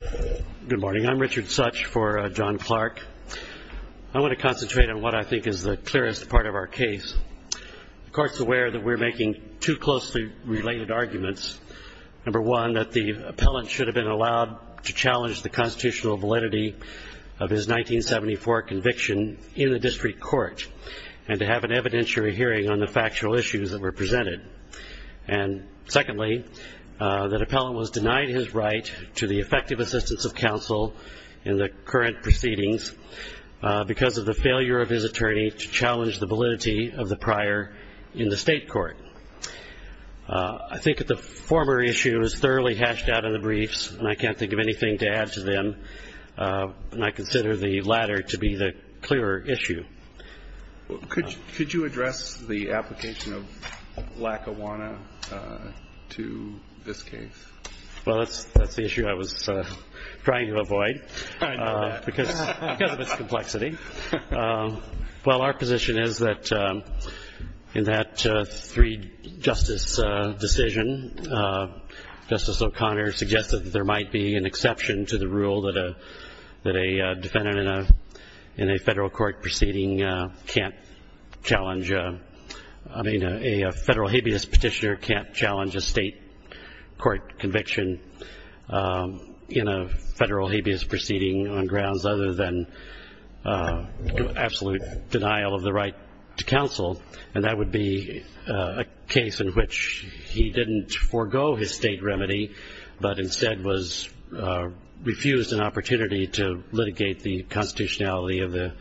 Good morning. I'm Richard Such for John Clark. I want to concentrate on what I think is the clearest part of our case. The Court's aware that we're making two closely related arguments. Number one, that the appellant should have been allowed to challenge the constitutional validity of his 1974 conviction in the district court and to have an evidentiary hearing on the factual issues that were presented. And secondly, that appellant was denied his right to the effective assistance of counsel in the current proceedings because of the failure of his attorney to challenge the validity of the prior in the state court. I think that the former issue is thoroughly hashed out in the briefs and I can't think of anything to add to them and I consider the latter to be the clearer issue. Could you address the application of Lackawanna to this case? Well, that's the issue I was trying to avoid because of its complexity. Well, our position is that in that three justice decision, Justice O'Connor suggested that there might be an exception to the rule that a defendant in a federal court proceeding can't challenge, I mean, a federal habeas petitioner can't challenge a state court conviction in a federal habeas proceeding on grounds other than absolute denial of the right to counsel. And that would be a case in which he didn't forego his state remedy but instead was refused an opportunity to litigate the constitutionality of the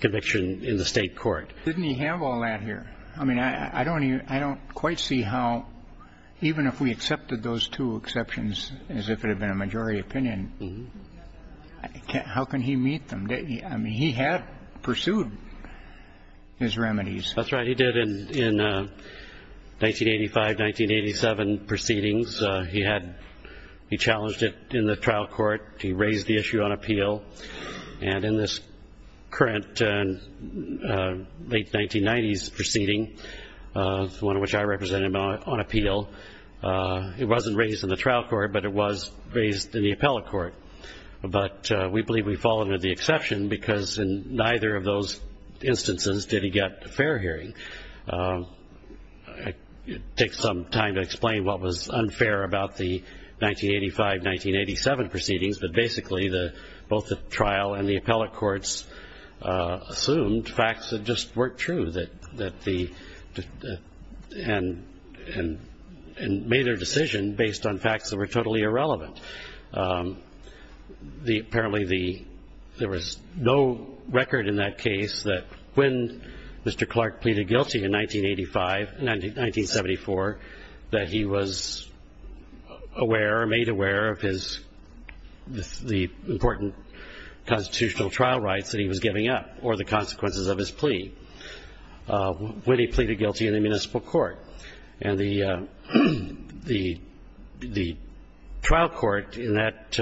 conviction in the state court. Didn't he have all that here? I mean, I don't quite see how even if we accepted those two exceptions as if it had been a majority opinion, how can he meet them? I mean, he had pursued his remedies. That's right. He did in 1985, 1987 proceedings. He challenged it in the trial court. He raised the issue on appeal. And in this current late 1990s proceeding, the one in which I represented him on appeal, it wasn't raised in the trial court but it was raised in the appellate court. But we believe we fall under the exception because in neither of those instances did he get a fair hearing. It takes some time to explain what was unfair about the 1985, 1987 proceedings, but basically both the trial and the appellate courts assumed facts that just weren't true and made their decision based on facts that were totally irrelevant. Apparently there was no record in that case that when Mr. Clark pleaded guilty in 1985, 1974, that he was aware or made aware of the important constitutional trial rights that he was giving up or the consequences of his plea when he pleaded guilty in the municipal court. And the trial court in that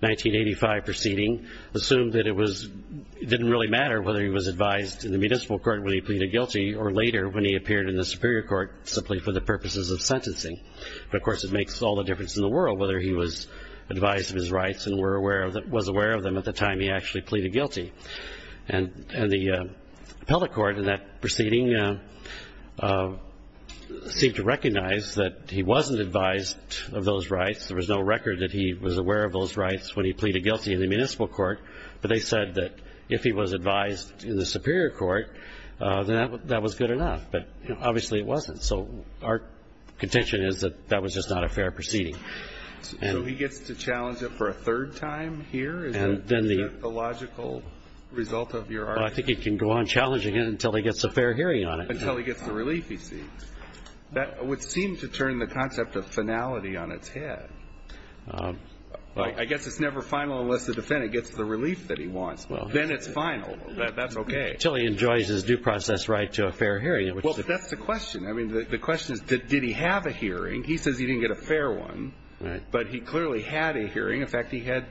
1985 proceeding assumed that it didn't really matter whether he was advised in the municipal court when he pleaded guilty or later when he appeared in the superior court simply for the purposes of sentencing. But, of course, it makes all the difference in the world whether he was advised of his rights and was aware of them at the time he actually pleaded guilty. And the appellate court in that proceeding seemed to recognize that he wasn't advised of those rights. There was no record that he was aware of those rights when he pleaded guilty in the municipal court, but they said that if he was advised in the superior court, then that was good enough. But obviously it wasn't. So our contention is that that was just not a fair proceeding. So he gets to challenge it for a third time here? Is that the logical result of your argument? Well, I think he can go on challenging it until he gets a fair hearing on it. Until he gets the relief he seeks. That would seem to turn the concept of finality on its head. I guess it's never final unless the defendant gets the relief that he wants. Then it's final. That's okay. Until he enjoys his due process right to a fair hearing. Well, that's the question. I mean, the question is did he have a hearing? He says he didn't get a fair one, but he clearly had a hearing. In fact, he had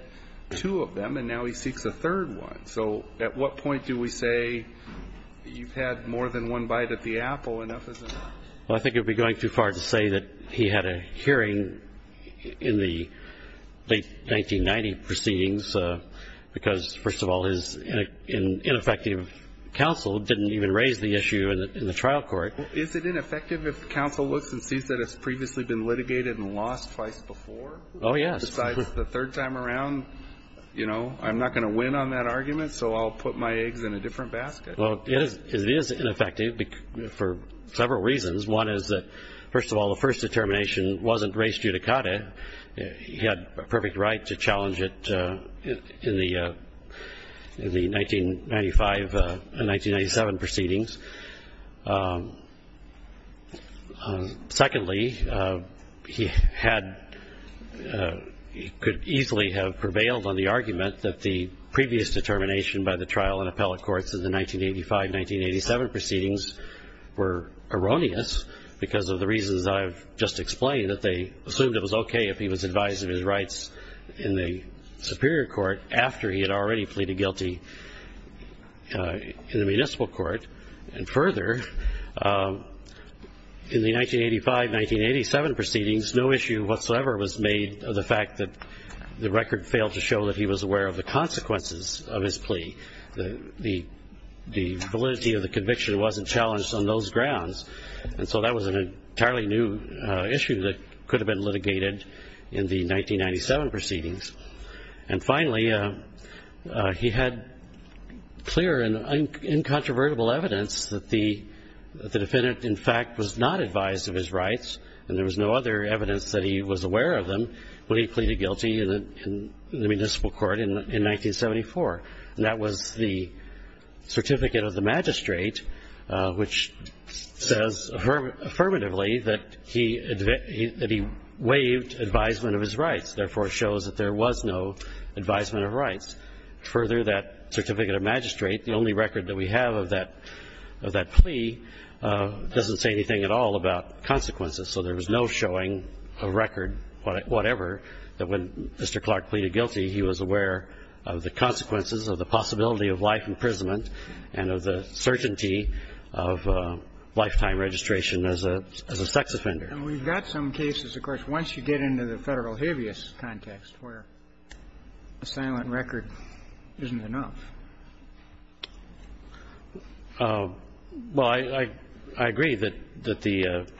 two of them, and now he seeks a third one. So at what point do we say you've had more than one bite at the apple? Well, I think it would be going too far to say that he had a hearing in the late 1990 proceedings because, first of all, his ineffective counsel didn't even raise the issue in the trial court. Is it ineffective if counsel looks and sees that it's previously been litigated and lost twice before? Oh, yes. Besides the third time around, you know, I'm not going to win on that argument, so I'll put my eggs in a different basket. Well, it is ineffective for several reasons. One is that, first of all, the first determination wasn't raised judicata. He had a perfect right to challenge it in the 1995 and 1997 proceedings. Secondly, he could easily have prevailed on the argument that the previous determination by the trial and appellate courts in the 1985-1987 proceedings were erroneous because of the reasons I've just explained, namely that they assumed it was okay if he was advised of his rights in the superior court after he had already pleaded guilty in the municipal court. And further, in the 1985-1987 proceedings, no issue whatsoever was made of the fact that the record failed to show that he was aware of the consequences of his plea. The validity of the conviction wasn't challenged on those grounds, and so that was an entirely new issue that could have been litigated in the 1997 proceedings. And finally, he had clear and incontrovertible evidence that the defendant, in fact, was not advised of his rights, and there was no other evidence that he was aware of them when he pleaded guilty in the municipal court in 1974. And that was the certificate of the magistrate, which says affirmatively that he waived advisement of his rights. Therefore, it shows that there was no advisement of rights. Further, that certificate of magistrate, the only record that we have of that plea, doesn't say anything at all about consequences, so there was no showing of record, whatever, that when Mr. Clark pleaded guilty, he was aware of the consequences of the possibility of life imprisonment and of the certainty of lifetime registration as a sex offender. And we've got some cases, of course, once you get into the Federal habeas context where a silent record isn't enough. Well, I agree that the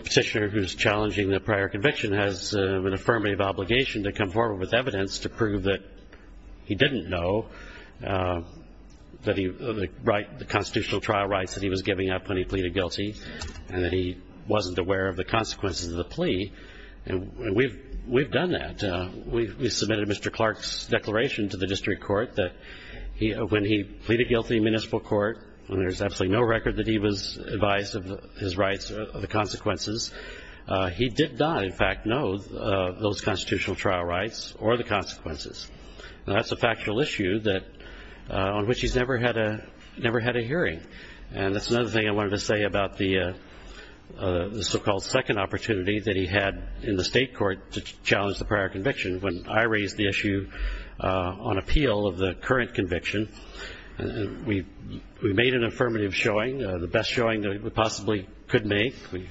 petitioner who's challenging the prior conviction has an affirmative obligation to come forward with evidence to prove that he didn't know the constitutional trial rights that he was giving up when he pleaded guilty and that he wasn't aware of the consequences of the plea. And we've done that. We submitted Mr. Clark's declaration to the district court that when he pleaded guilty in municipal court, when there's absolutely no record that he was advised of his rights or the consequences, he did not, in fact, know those constitutional trial rights or the consequences. Now, that's a factual issue on which he's never had a hearing. And that's another thing I wanted to say about the so-called second opportunity that he had in the state court to challenge the prior conviction. When I raised the issue on appeal of the current conviction, we made an affirmative showing, the best showing that we possibly could make. We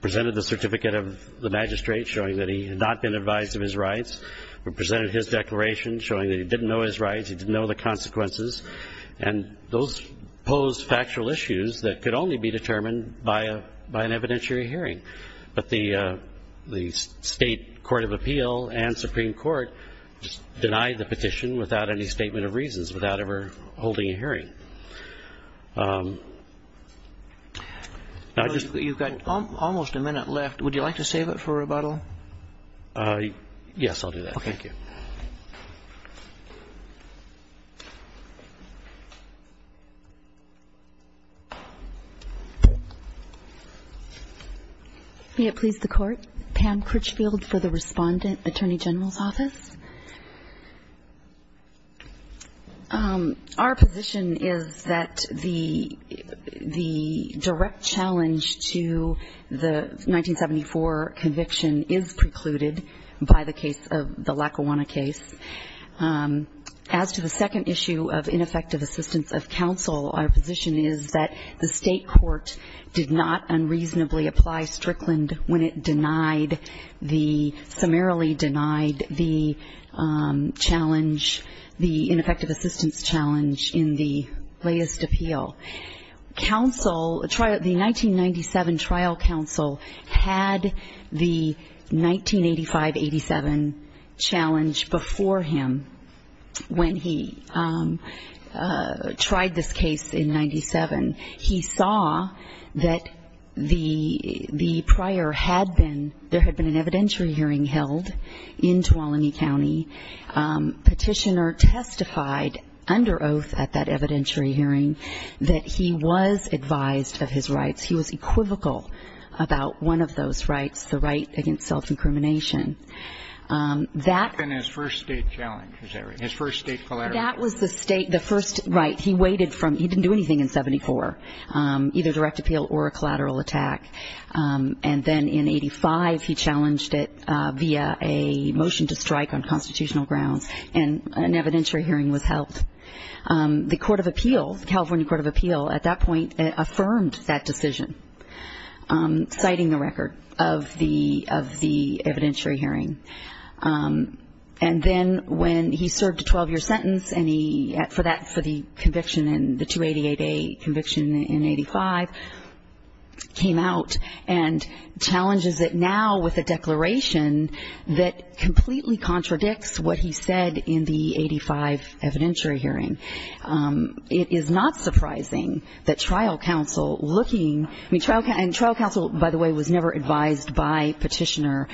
presented the certificate of the magistrate showing that he had not been advised of his rights. We presented his declaration showing that he didn't know his rights. He didn't know the consequences. And those posed factual issues that could only be determined by an evidentiary hearing. But the state court of appeal and Supreme Court denied the petition without any statement of reasons, without ever holding a hearing. Now, I just ---- You've got almost a minute left. Would you like to save it for rebuttal? Okay. Thank you. May it please the Court. Pam Critchfield for the Respondent, Attorney General's Office. Our position is that the direct challenge to the 1974 conviction is precluded by the case of the Lackawanna case. As to the second issue of ineffective assistance of counsel, our position is that the state court did not unreasonably apply Strickland when it denied the ---- summarily denied the challenge, the ineffective assistance challenge in the latest appeal. Counsel, the 1997 trial counsel had the 1985-87 challenge before him when he tried this case in 97. He saw that the prior had been ---- there had been an evidentiary hearing held in Tuolumne County. Petitioner testified under oath at that evidentiary hearing that he was advised of his rights. He was equivocal about one of those rights, the right against self-incrimination. That ---- That had been his first state challenge, his first state collateral. That was the state, the first right. He waited from ---- he didn't do anything in 74, either direct appeal or a collateral attack. And then in 85, he challenged it via a motion to strike on constitutional grounds, and an evidentiary hearing was held. The Court of Appeals, California Court of Appeals, at that point affirmed that decision, citing the record of the evidentiary hearing. And then when he served a 12-year sentence, and he, for that, for the conviction in, the 288A conviction in 85, came out and challenges it now with a declaration that completely contradicts what he said in the 85 evidentiary hearing. It is not surprising that trial counsel looking ---- I mean, trial counsel, by the way, was never advised by Petitioner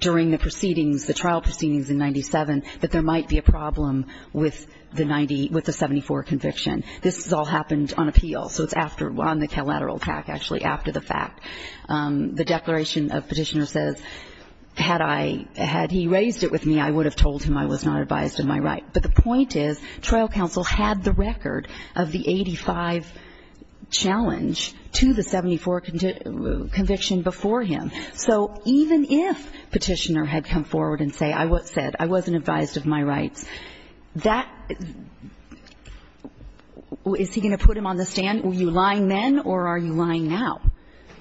during the proceedings, the trial proceedings in 97, that there might be a problem with the 90, with the 74 conviction. This has all happened on appeal, so it's after, on the collateral attack, actually, after the fact. The declaration of Petitioner says, had I ---- had he raised it with me, I would have told him I was not advised of my right. But the point is, trial counsel had the record of the 85 challenge to the 74 conviction before him. So even if Petitioner had come forward and said, I wasn't advised of my rights, that ---- is he going to put him on the stand? Were you lying then, or are you lying now?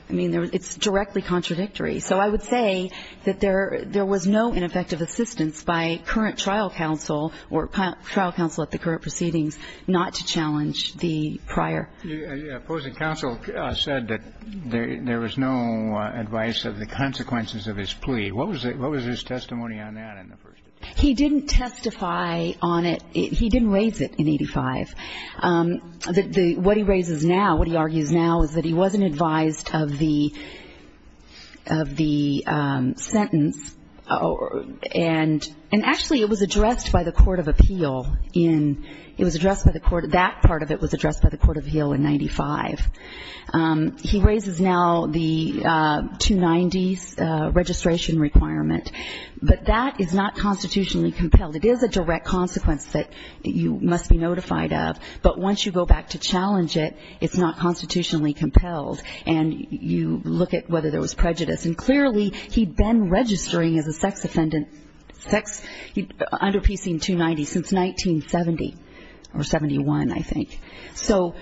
I mean, it's directly contradictory. So I would say that there was no ineffective assistance by current trial counsel or trial counsel at the current proceedings not to challenge the prior. The opposing counsel said that there was no advice of the consequences of his plea. What was his testimony on that in the first instance? He didn't testify on it. He didn't raise it in 85. The ---- what he raises now, what he argues now is that he wasn't advised of the sentence, and actually, it was addressed by the Court of Appeal in ---- it was addressed by the Court of ---- that part of it was addressed by the Court of Appeal in 95. He raises now the 290s registration requirement. But that is not constitutionally compelled. It is a direct consequence that you must be notified of. But once you go back to challenge it, it's not constitutionally compelled. And you look at whether there was prejudice. And clearly, he'd been registering as a sex offender, sex ---- under PC 290 since 1970, or 71, I think. So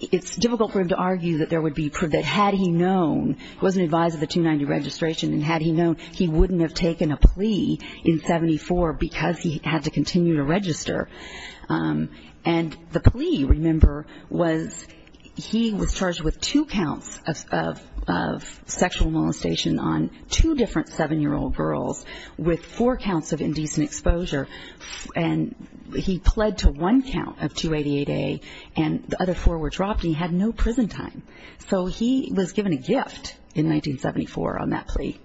it's difficult for him to argue that there would be ---- that had he known, wasn't advised of the 290 registration, and had he known, he wouldn't have taken a plea in 74 because he had to continue to register. And the plea, remember, was he was charged with two counts of sexual molestation on two different 7-year-old girls with four counts of indecent exposure. And he pled to one count of 288A, and the other four were dropped, and he had no prison time. So he was given a gift in 1974 on that plea.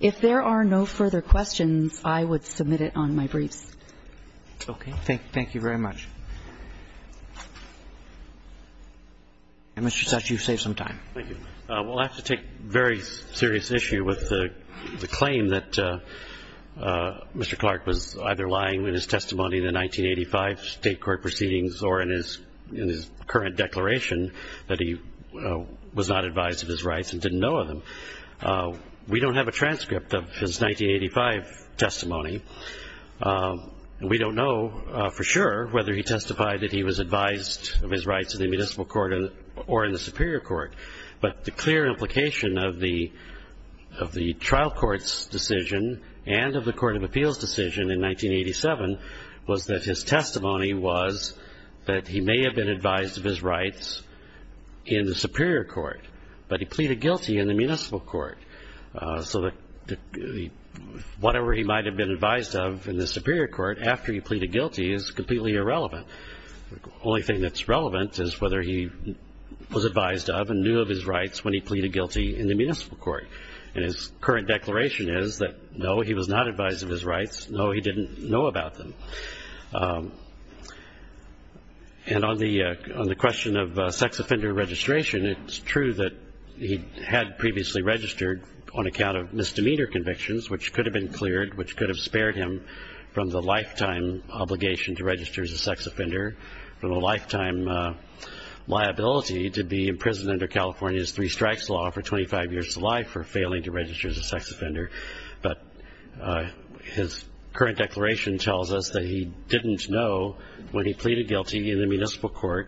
If there are no further questions, I would submit it on my briefs. Roberts. Okay. Thank you very much. And, Mr. Dutch, you've saved some time. Thank you. We'll have to take very serious issue with the claim that Mr. Clark was either lying in his testimony in the 1985 state court proceedings or in his current declaration that he was not advised of his rights and didn't know of them. We don't have a transcript of his 1985 testimony. We don't know for sure whether he testified that he was advised of his rights in the municipal court or in the superior court, but the clear implication of the trial court's decision and of the Court of Appeals' decision in 1987 was that his testimony was that he may have been advised of his rights in the superior court, but he pleaded guilty in the municipal court. So whatever he might have been advised of in the superior court after he pleaded guilty is completely irrelevant. The only thing that's relevant is whether he was advised of and knew of his rights when he pleaded guilty in the municipal court. And his current declaration is that, no, he was not advised of his rights. No, he didn't know about them. And on the question of sex offender registration, it's true that he had previously registered on account of misdemeanor convictions, which could have been cleared, which could have spared him from the lifetime obligation to register as a sex offender, from a lifetime liability to be imprisoned under California's three strikes law for 25 years of life for failing to register as a sex offender. But his current declaration tells us that he didn't know when he pleaded guilty in the municipal court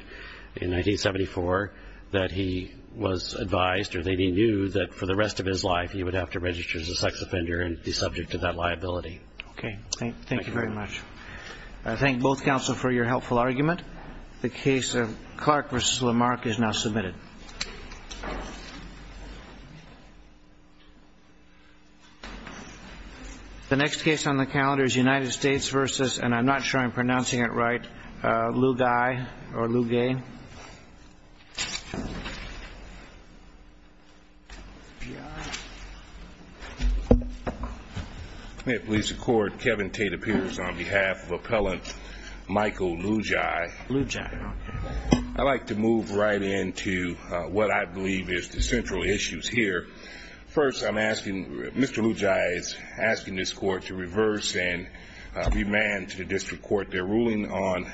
in 1974 that he was advised or that he knew that for the rest of his life he would have to register as a sex offender and be subject to that liability. Okay. Thank you very much. I thank both counsel for your helpful argument. The case of Clark v. Lamarck is now submitted. The next case on the calendar is United States v. and I'm not sure I'm pronouncing it right, Lugai or Lugay. May it please the court, Kevin Tate appears on behalf of appellant Michael Lugai. Lugai. I'd like to move right into what I believe is the central issues here. First, I'm asking, Mr. Lugai is asking this court to reverse and remand to the district court their ruling on